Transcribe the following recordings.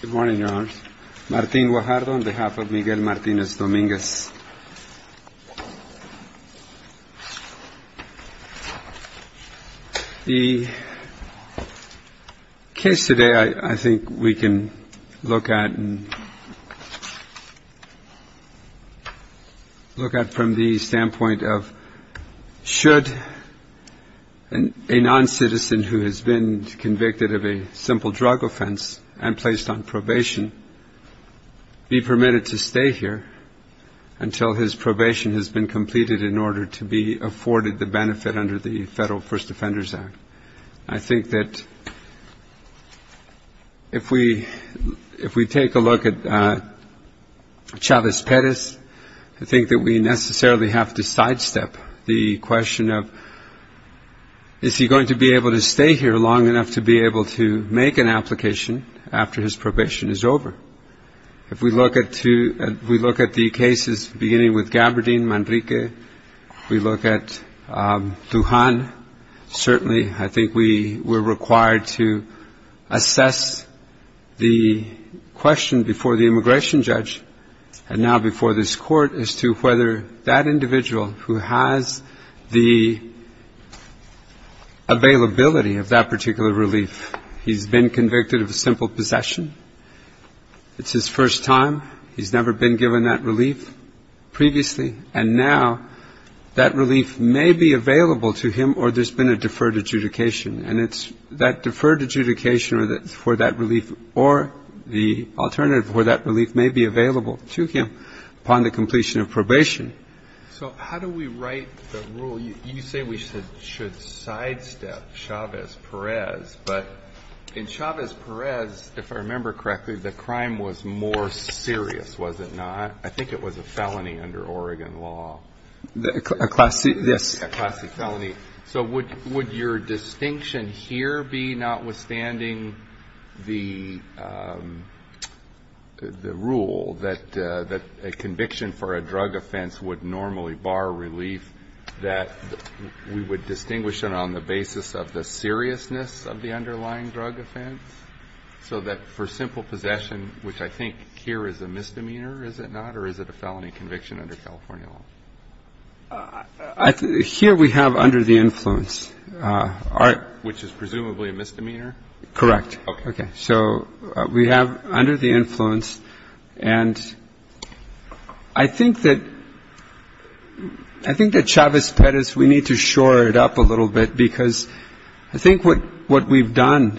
Good morning, Your Honors. Martín Guajardo on behalf of Miguel Martinez Dominguez. The case today I think we can look at from the standpoint of should a non-citizen who has been convicted of a simple drug offense and placed on probation be permitted to stay here until his probation has been completed in order to be afforded the benefit under the Federal First Defenders Act. I think that if we take a look at Chavez Perez, I think that we necessarily have to sidestep the question of is he going to be able to stay here long enough to be able to make an application after his probation is over. If we look at the cases beginning with Gabardine Manrique, we look at Dujan, certainly I think we're required to assess the question before the immigration judge and now before this individual who has the availability of that particular relief. He's been convicted of a simple possession. It's his first time. He's never been given that relief previously. And now that relief may be available to him or there's been a deferred adjudication. And it's that deferred adjudication for that relief or the alternative for that relief may be available to him upon the completion of probation. So how do we write the rule? You say we should sidestep Chavez Perez, but in Chavez Perez, if I remember correctly, the crime was more serious, was it not? I think it was a felony under Oregon law. A class C felony. So would your distinction here be notwithstanding the rule that a conviction for a drug offense would normally bar relief, that we would distinguish it on the basis of the seriousness of the underlying drug offense? So that for simple possession, which I think here is a misdemeanor, is it not? Or is it a felony conviction under California law? Here we have under the influence. Which is presumably a misdemeanor? Correct. Okay. So we have under the influence. And I think that I think that Chavez Perez, we need to shore it up a little bit because I think what what we've done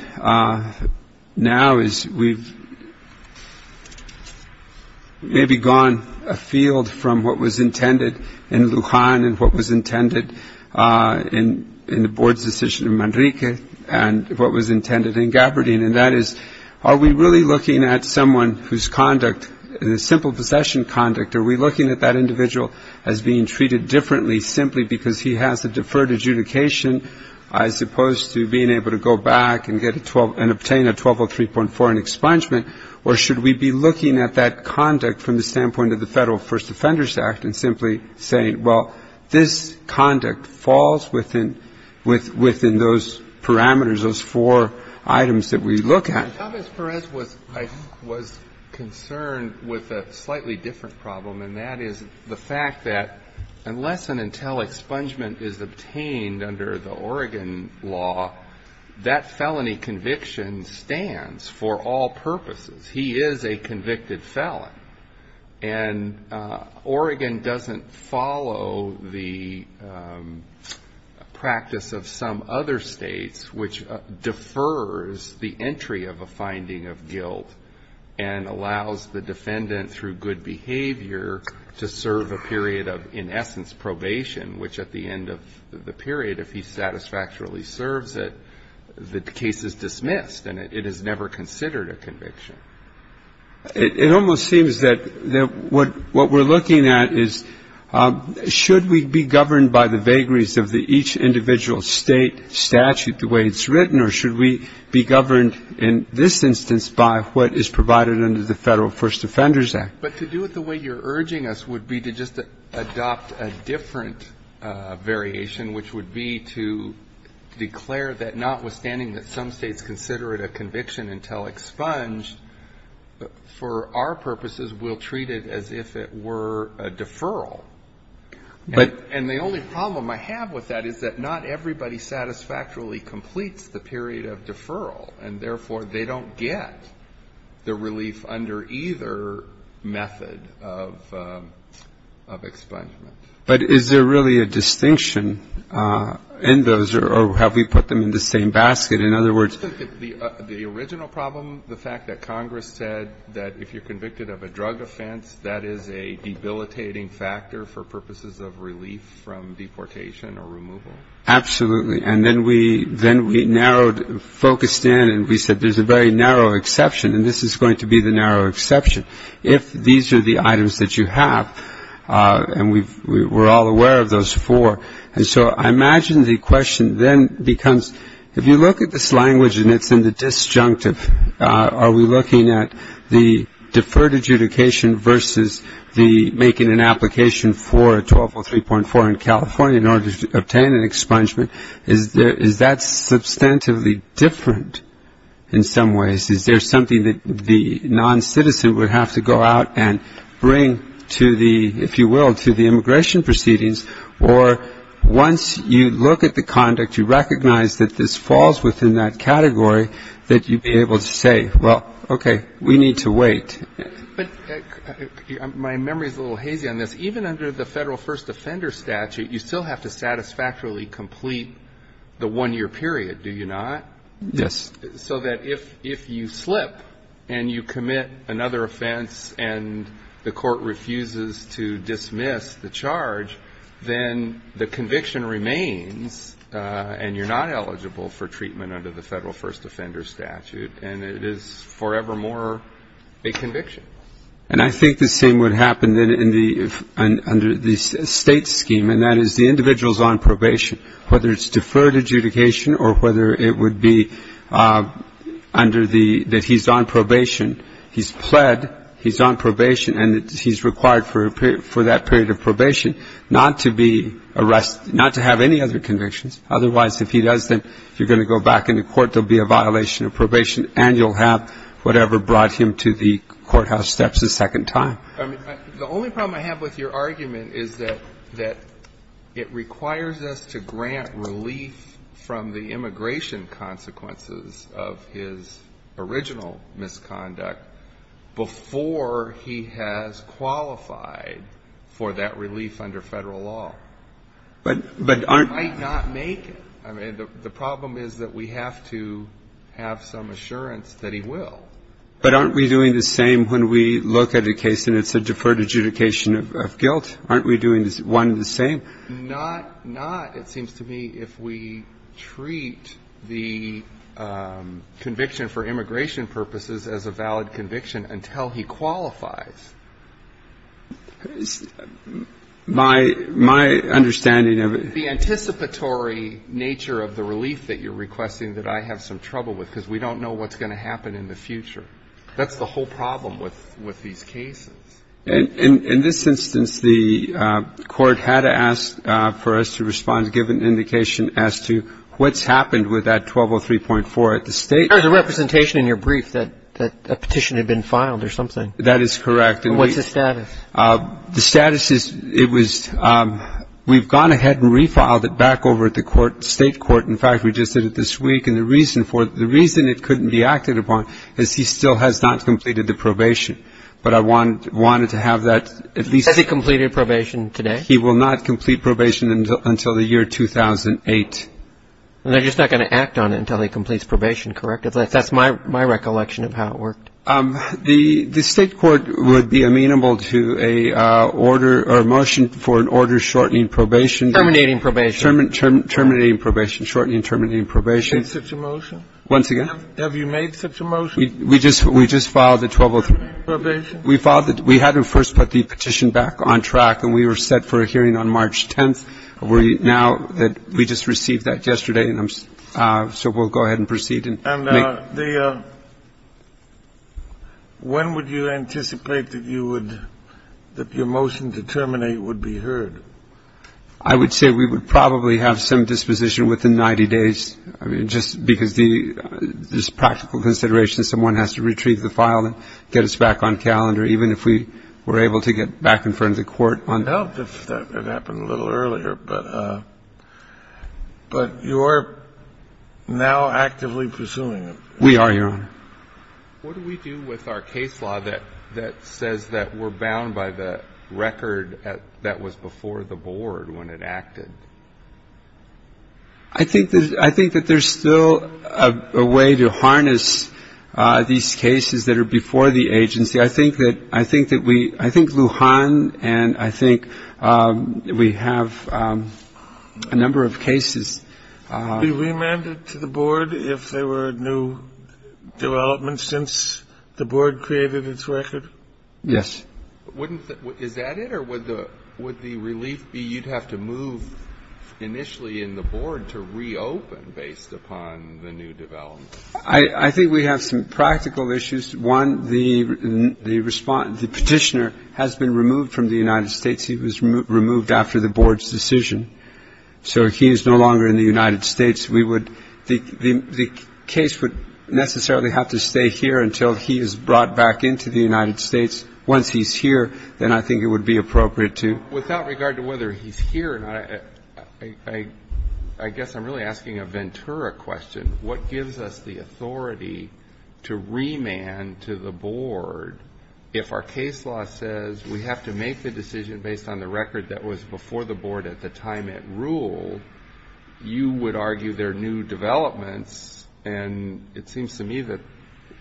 now is we've maybe gone afield from what was intended in Lujan and what was intended in the board's decision in Manrique and what was intended in Gabardine. And that is, are we really looking at someone whose conduct, simple possession conduct, are we looking at that individual as being treated differently simply because he has a deferred adjudication as opposed to being able to go back and get a 12 and obtain a 1203.4 in expungement? Or should we be looking at that conduct from the standpoint of the Federal First Offenders Act and simply saying, well, this conduct falls within those parameters, those four items that we look at? Chavez Perez was concerned with a slightly different problem, and that is the fact that unless and until expungement is obtained under the Oregon law, that felony conviction stands for all purposes. He is a convicted felon. And Oregon doesn't follow the practice of some other states, which defers the entry of a finding of guilt and allows the defendant through good behavior to serve a period of, in essence, probation, which at the end of the period, if he satisfactorily serves it, the case is dismissed and it is never considered a conviction. It almost seems that what we're looking at is should we be governed by the vagaries of the each individual state statute the way it's written, or should we be governed in this instance by what is provided under the Federal First Offenders Act? But to do it the way you're urging us would be to just adopt a different variation, which would be to declare that notwithstanding that some states consider it a conviction until expunged, for our purposes we'll treat it as if it were a deferral. And the only problem I have with that is that not everybody satisfactorily completes the period of deferral, and therefore they don't get the relief under either method of expungement. But is there really a distinction in those, or have we put them in the same basket? In other words, the original problem, the fact that Congress said that if you're convicted of a drug offense, that is a debilitating factor for purposes of relief from deportation or removal? Absolutely. And then we narrowed, focused in, and we said there's a very narrow exception, and this is going to be the narrow exception if these are the items that you have. And we're all aware of those four. And so I imagine the question then becomes, if you look at this language and it's in the disjunctive, are we looking at the deferred adjudication versus the making an application for 1203.4 in California in order to obtain an expungement? Is that substantively different in some ways? Is there something that the noncitizen would have to go out and bring to the, if you will, to the immigration proceedings? Or once you look at the conduct, you recognize that this falls within that category, that you'd be able to say, well, okay, we need to wait. But my memory is a little hazy on this. Even under the Federal First Offender Statute, you still have to satisfactorily complete the one-year period, do you not? Yes. So that if you slip and you commit another offense and the court refuses to dismiss the charge, then the conviction remains and you're not eligible for treatment under the Federal First Offender Statute, and it is forevermore a conviction. And I think the same would happen under the state scheme, and that is the individual is on probation, whether it's deferred adjudication or whether it would be under the, that he's on probation. He's pled, he's on probation, and he's required for that period of probation not to be arrested, not to have any other convictions. Otherwise, if he does, then if you're going to go back into court, there will be a violation of probation and you'll have whatever brought him to the courthouse steps a second time. I mean, the only problem I have with your argument is that it requires us to grant relief from the immigration consequences of his original misconduct before he has qualified for that relief under Federal law. But aren't... He might not make it. I mean, the problem is that we have to have some assurance that he will. But aren't we doing the same when we look at a case and it's a deferred adjudication of guilt? Aren't we doing one and the same? Not, not, it seems to me, if we treat the conviction for immigration purposes as a valid conviction until he qualifies. My, my understanding of it... It's the anticipatory nature of the relief that you're requesting that I have some trouble with because we don't know what's going to happen in the future. That's the whole problem with these cases. In this instance, the Court had asked for us to respond to give an indication as to what's happened with that 1203.4. At the State... There was a representation in your brief that a petition had been filed or something. That is correct. What's the status? The status is it was... We've gone ahead and refiled it back over at the Court, State Court. In fact, we just did it this week. And the reason for it, the reason it couldn't be acted upon is he still has not completed the probation. But I wanted to have that at least... Has he completed probation today? He will not complete probation until the year 2008. They're just not going to act on it until he completes probation, correct? That's my recollection of how it worked. The State Court would be amenable to a order or a motion for an order shortening probation. Terminating probation. Terminating probation, shortening and terminating probation. Have you made such a motion? Once again? Have you made such a motion? We just filed the 1203. Terminating probation? We had to first put the petition back on track, and we were set for a hearing on March 10th. Now that we just received that yesterday, so we'll go ahead and proceed. And when would you anticipate that you would, that your motion to terminate would be heard? I would say we would probably have some disposition within 90 days. I mean, just because the practical consideration someone has to retrieve the file and get us back on calendar, even if we were able to get back in front of the Court on... It would help if that had happened a little earlier, but you are now actively pursuing it. We are, Your Honor. What do we do with our case law that says that we're bound by the record that was before the board when it acted? I think that there's still a way to harness these cases that are before the agency. I think that we – I think Lujan and I think we have a number of cases. Be remanded to the board if there were new developments since the board created its record? Yes. Wouldn't the – is that it, or would the relief be you'd have to move initially in the board to reopen based upon the new developments? I think we have some practical issues. One, the petitioner has been removed from the United States. He was removed after the board's decision, so he is no longer in the United States. We would – the case would necessarily have to stay here until he is brought back into the United States. Once he's here, then I think it would be appropriate to... Without regard to whether he's here or not, I guess I'm really asking a Ventura question. What gives us the authority to remand to the board if our case law says we have to make the decision based on the record that was before the board at the time it ruled? You would argue there are new developments, and it seems to me that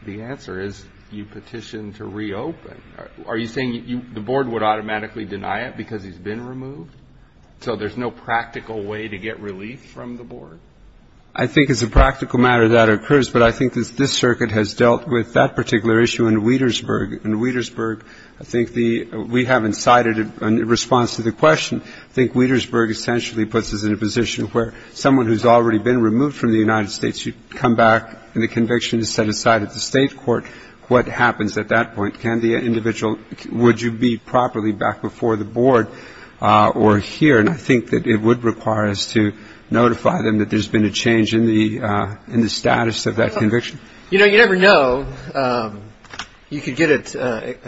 the answer is you petition to reopen. Are you saying the board would automatically deny it because he's been removed? So there's no practical way to get relief from the board? I think as a practical matter that occurs, but I think this circuit has dealt with that particular issue in Wietersburg. In Wietersburg, I think the – we haven't cited a response to the question. I think Wietersburg essentially puts us in a position where someone who's already been removed from the United States, you come back and the conviction is set aside at the state court. What happens at that point? Can the individual – would you be properly back before the board or here? And I think that it would require us to notify them that there's been a change in the status of that conviction. You know, you never know. You could get it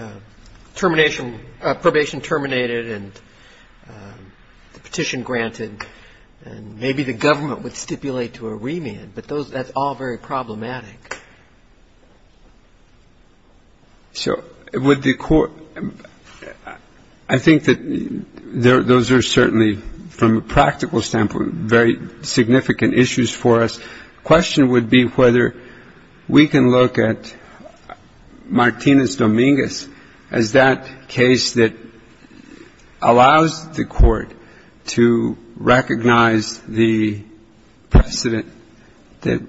termination – probation terminated and the petition granted, and maybe the government would stipulate to a remand, but those – that's all very problematic. So would the court – I think that those are certainly, from a practical standpoint, very significant issues for us. The question would be whether we can look at Martinez-Dominguez as that case that allows the court to recognize the precedent that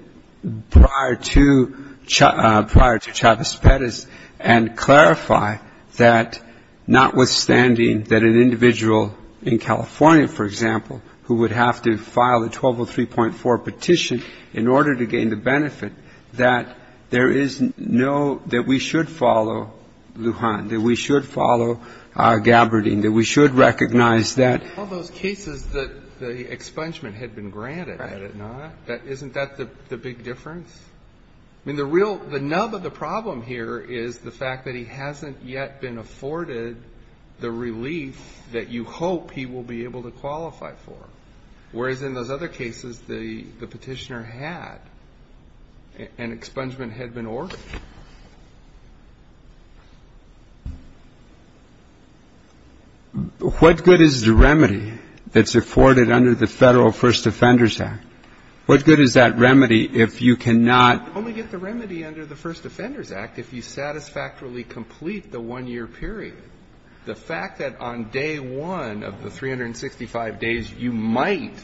prior to – prior to Chavez-Perez and clarify that notwithstanding that an individual in California, for example, who would have to file a 1203.4 petition in order to gain the benefit, that there is no – that we should follow Lujan, that we should follow Gabbardine, that we should recognize that. All those cases that the expungement had been granted, had it not, isn't that the big difference? I mean, the real – the nub of the problem here is the fact that he hasn't yet been afforded the relief that you hope he will be able to qualify for, whereas in those other cases, the petitioner had, and expungement had been ordered. Breyer. What good is the remedy that's afforded under the Federal First Offenders Act? What good is that remedy if you cannot only get the remedy under the First Offenders Act if you satisfactorily complete the one-year period? The fact that on day one of the 365 days you might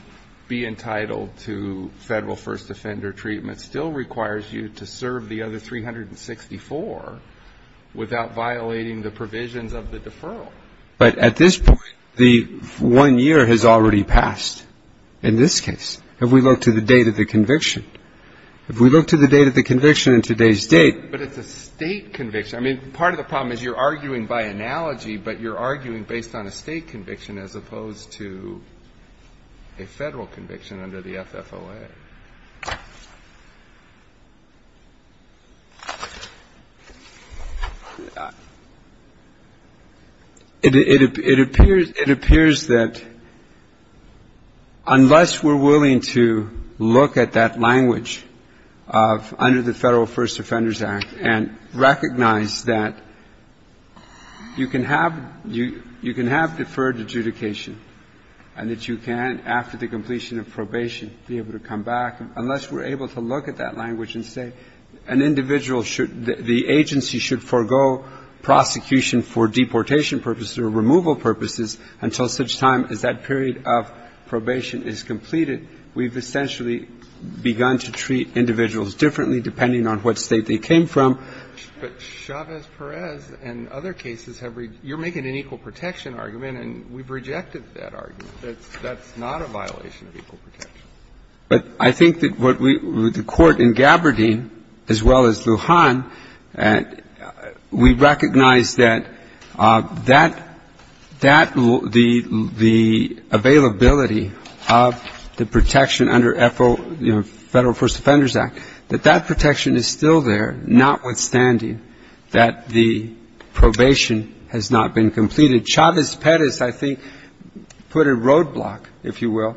be entitled to Federal First Offender treatment and it still requires you to serve the other 364 without violating the provisions of the deferral. But at this point, the one year has already passed in this case, if we look to the date of the conviction. If we look to the date of the conviction in today's date. But it's a State conviction. I mean, part of the problem is you're arguing by analogy, but you're arguing based on a State conviction as opposed to a Federal conviction under the FFOA. It appears that unless we're willing to look at that language of under the Federal First Offenders Act and recognize that you can have deferred adjudication and that you can, after the completion of probation, be able to come back, unless we're able to look at that language and say an individual should, the agency should forego prosecution for deportation purposes or removal purposes until such time as that period of probation is completed, we've essentially begun to treat individuals differently depending on what State they came from. But Chavez-Perez and other cases have, you're making an equal protection argument and we've rejected that argument. That's not a violation of equal protection. But I think that what we, the Court in Gaberdine, as well as Lujan, we recognize that that, the availability of the protection under FFOA, Federal First Offenders Act, that that protection is still there, notwithstanding that the probation has not been completed. Chavez-Perez, I think, put a roadblock, if you will,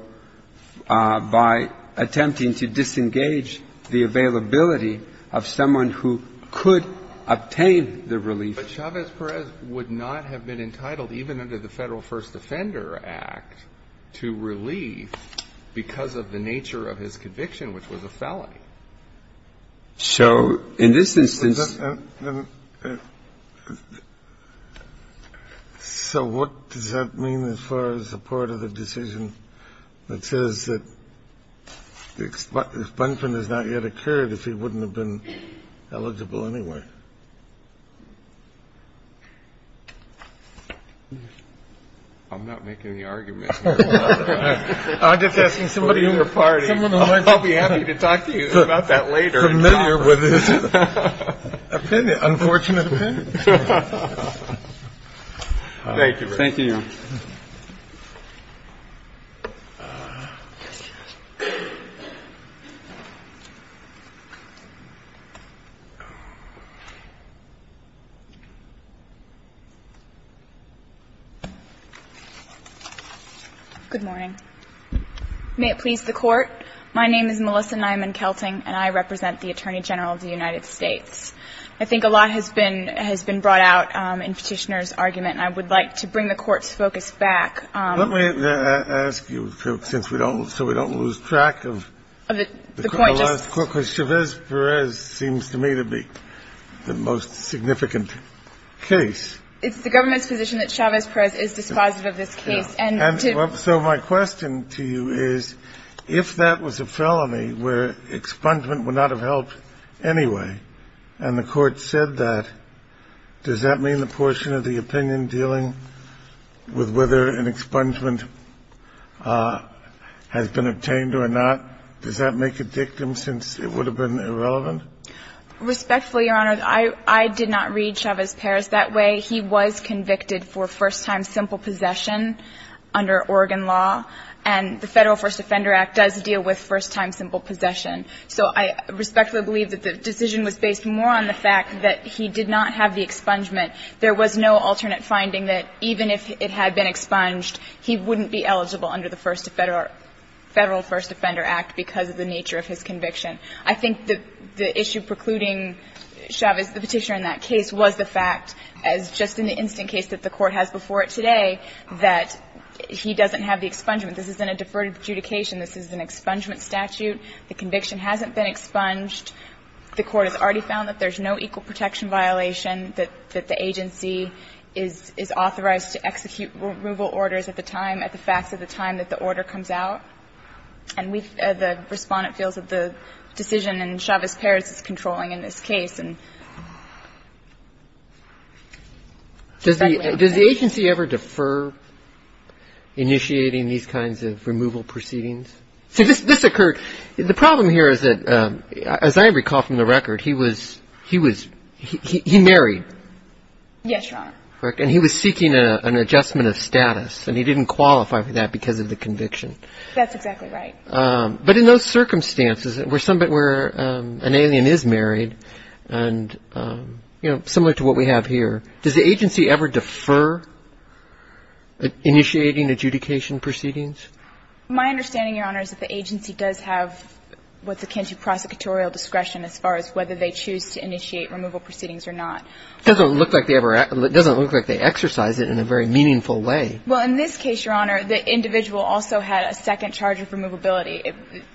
by attempting to disengage the availability of someone who could obtain the relief. But Chavez-Perez would not have been entitled, even under the Federal First Offender Act, to relief because of the nature of his conviction, which was a felony. So in this instance... So what does that mean as far as the part of the decision that says that the expunction has not yet occurred if he wouldn't have been eligible anyway? I'm not making the argument. I'm just asking somebody in your party. I'll be happy to talk to you about that later. Familiar with his opinion, unfortunate opinion. Thank you. Thank you. Good morning. May it please the Court. My name is Melissa Nyman-Kelting, and I represent the Attorney General of the United States. I think a lot has been brought out in Petitioner's argument, and I would like to bring the Court's focus back. Let me ask you, since we don't – so we don't lose track of... The point just... Because Chavez-Perez seems to me to be the most significant case. It's the Government's position that Chavez-Perez is dispositive of this case. And to... So my question to you is, if that was a felony where expungement would not have helped anyway, and the Court said that, does that mean the portion of the opinion dealing with whether an expungement has been obtained or not, does that make a victim, since it would have been irrelevant? Respectfully, Your Honor, I did not read Chavez-Perez that way. He was convicted for first-time simple possession under Oregon law, and the Federal First Offender Act does deal with first-time simple possession. So I respectfully believe that the decision was based more on the fact that he did not have the expungement. There was no alternate finding that even if it had been expunged, he wouldn't be eligible under the Federal First Offender Act because of the nature of his conviction. I think the issue precluding Chavez, the Petitioner in that case, was the fact, as just in the instant case that the Court has before it today, that he doesn't have the expungement. This isn't a deferred adjudication. This is an expungement statute. The conviction hasn't been expunged. The Court has already found that there's no equal protection violation, that the agency is authorized to execute removal orders at the time, at the facts of the time that the order comes out. And we, the Respondent, feels that the decision in Chavez-Perez is controlling in this case. And respectfully, Your Honor. Does the agency ever defer initiating these kinds of removal proceedings? See, this occurred. The problem here is that, as I recall from the record, he was, he was, he married. Yes, Your Honor. And he was seeking an adjustment of status, and he didn't qualify for that because of the conviction. That's exactly right. But in those circumstances, where somebody, where an alien is married, and, you know, similar to what we have here, does the agency ever defer initiating adjudication proceedings? My understanding, Your Honor, is that the agency does have what's akin to prosecutorial discretion as far as whether they choose to initiate removal proceedings or not. Doesn't look like they ever, doesn't look like they exercise it in a very meaningful way. Well, in this case, Your Honor, the individual also had a second charge of removability.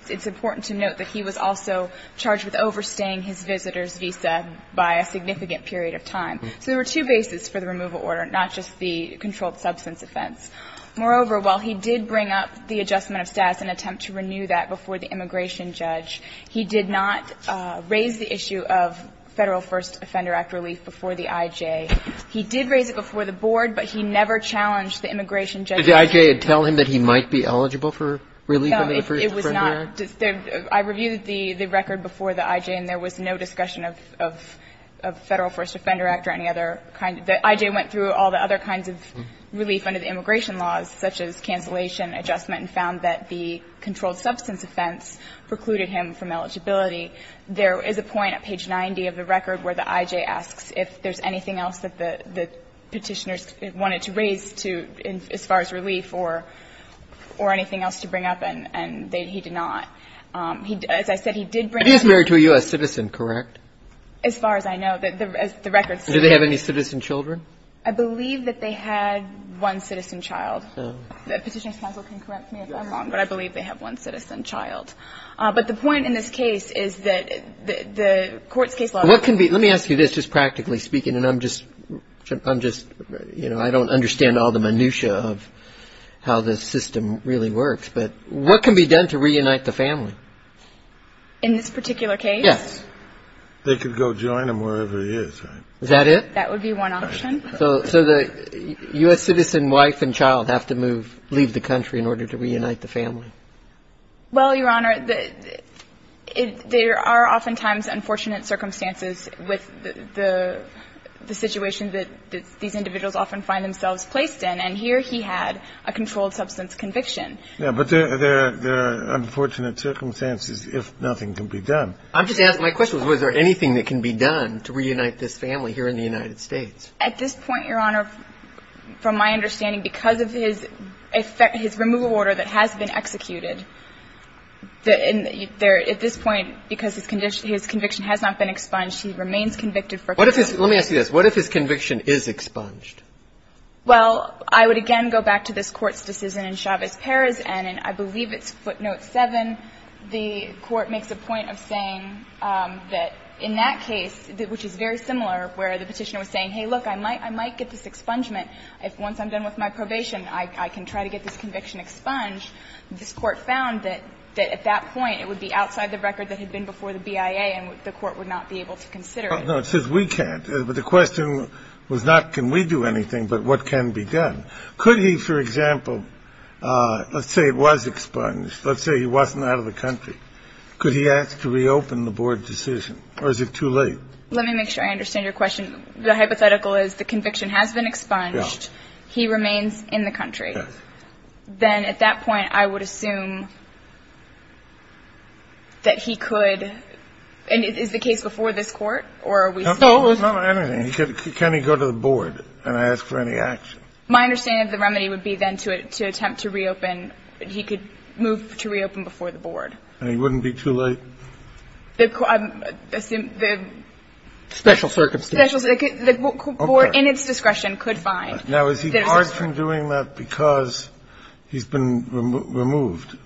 It's important to note that he was also charged with overstaying his visitor's visa by a significant period of time. So there were two bases for the removal order, not just the controlled substance offense. Moreover, while he did bring up the adjustment of status in an attempt to renew that before the immigration judge, he did not raise the issue of Federal First Offender Act relief before the I.J. He did raise it before the board, but he never challenged the immigration judge. Did the I.J. tell him that he might be eligible for relief under the First Offender Act? No, it was not. I reviewed the record before the I.J., and there was no discussion of Federal First Offender Act or any other kind. The I.J. went through all the other kinds of relief under the immigration laws, such as cancellation, adjustment, and found that the controlled substance offense precluded him from eligibility. There is a point at page 90 of the record where the I.J. asks if there's anything else that the Petitioners wanted to raise to as far as relief or anything else to bring up, and he did not. As I said, he did bring up the issue. He is married to a U.S. citizen, correct? As far as I know. The record says that. And do they have any citizen children? I believe that they had one citizen child. Petitioner's counsel can correct me if I'm wrong, but I believe they have one citizen child. But the point in this case is that the court's case law. Let me ask you this, just practically speaking, and I'm just, you know, I don't understand all the minutia of how this system really works, but what can be done to reunite the family? In this particular case? Yes. They could go join him wherever he is, right? Is that it? That would be one option. So the U.S. citizen wife and child have to move, leave the country in order to reunite the family? Well, Your Honor, there are oftentimes unfortunate circumstances with the situation that these individuals often find themselves placed in, and here he had a controlled substance conviction. Yeah, but there are unfortunate circumstances if nothing can be done. I'm just asking, my question was, was there anything that can be done to reunite this family here in the United States? At this point, Your Honor, from my understanding, because of his removal order that has been executed, at this point, because his conviction has not been expunged, he remains convicted for a conviction. Let me ask you this. What if his conviction is expunged? Well, I would again go back to this Court's decision in Chavez-Perez, and I believe it's footnote 7. The Court makes a point of saying that in that case, which is very similar, where the Petitioner was saying, hey, look, I might get this expungement once I'm done with my probation. I can try to get this conviction expunged. This Court found that at that point, it would be outside the record that had been before the BIA, and the Court would not be able to consider it. No, it says we can't. But the question was not can we do anything, but what can be done. Could he, for example, let's say it was expunged. Let's say he wasn't out of the country. Could he ask to reopen the board decision, or is it too late? Let me make sure I understand your question. The hypothetical is the conviction has been expunged. He remains in the country. Yes. Then at that point, I would assume that he could. And is the case before this Court, or are we still? No, not anything. Can he go to the board and ask for any action? My understanding of the remedy would be then to attempt to reopen. He could move to reopen before the board. And he wouldn't be too late? The special circumstances. The board, in its discretion, could find. Now, is he barred from doing that because he's been removed?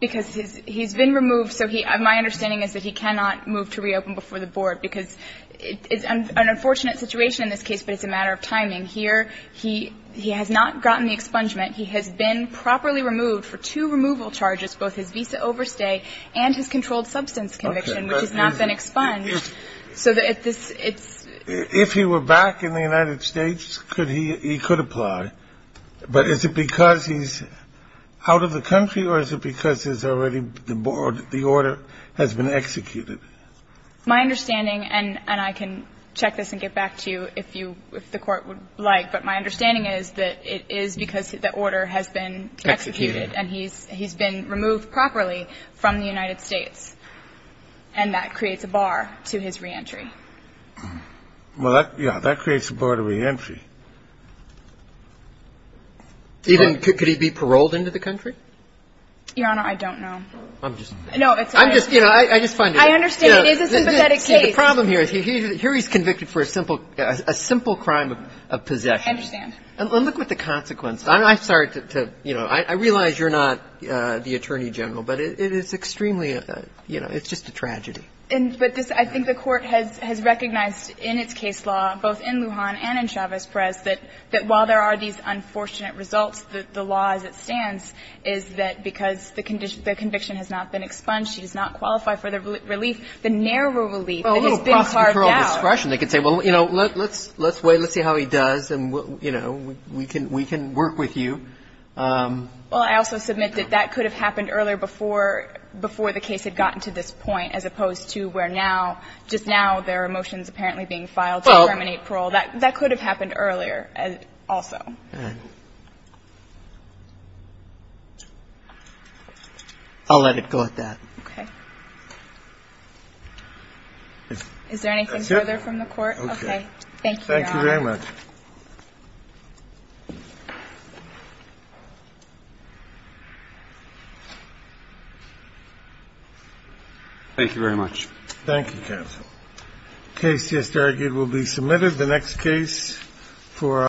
Because he's been removed, so my understanding is that he cannot move to reopen before the board, because it's an unfortunate situation in this case, but it's a matter of timing. Here, he has not gotten the expungement. He has been properly removed for two removal charges, both his visa overstay and his controlled substance conviction, which has not been expunged. Okay. If he were back in the United States, he could apply. But is it because he's out of the country, or is it because the order has been executed? My understanding, and I can check this and get back to you if you, if the Court would like, but my understanding is that it is because the order has been executed and he's been removed properly from the United States. And that creates a bar to his reentry. Well, that, yeah, that creates a bar to reentry. Even, could he be paroled into the country? Your Honor, I don't know. I'm just. No, it's. I'm just, you know, I just find it. I understand. It is a sympathetic case. The problem here is, here he's convicted for a simple, a simple crime of possession. I understand. And look what the consequences. I'm sorry to, you know, I realize you're not the Attorney General, but it is extremely, you know, it's just a tragedy. But this, I think the Court has recognized in its case law, both in Lujan and in Chavez-Perez, that while there are these unfortunate results, the law as it stands is that because the conviction has not been expunged, she does not qualify for the relief, the narrow relief that has been carved out. Well, a little cross-referral discretion. They could say, well, you know, let's wait. Let's see how he does and, you know, we can work with you. Well, I also submit that that could have happened earlier before the case had gotten to this point, as opposed to where now, just now there are motions apparently being filed to terminate parole. That could have happened earlier also. And I'll let it go at that. Okay. Is there anything further from the Court? Thank you, Your Honor. Thank you very much. Thank you very much. Thank you, Kev. The case just argued will be submitted. The next case for...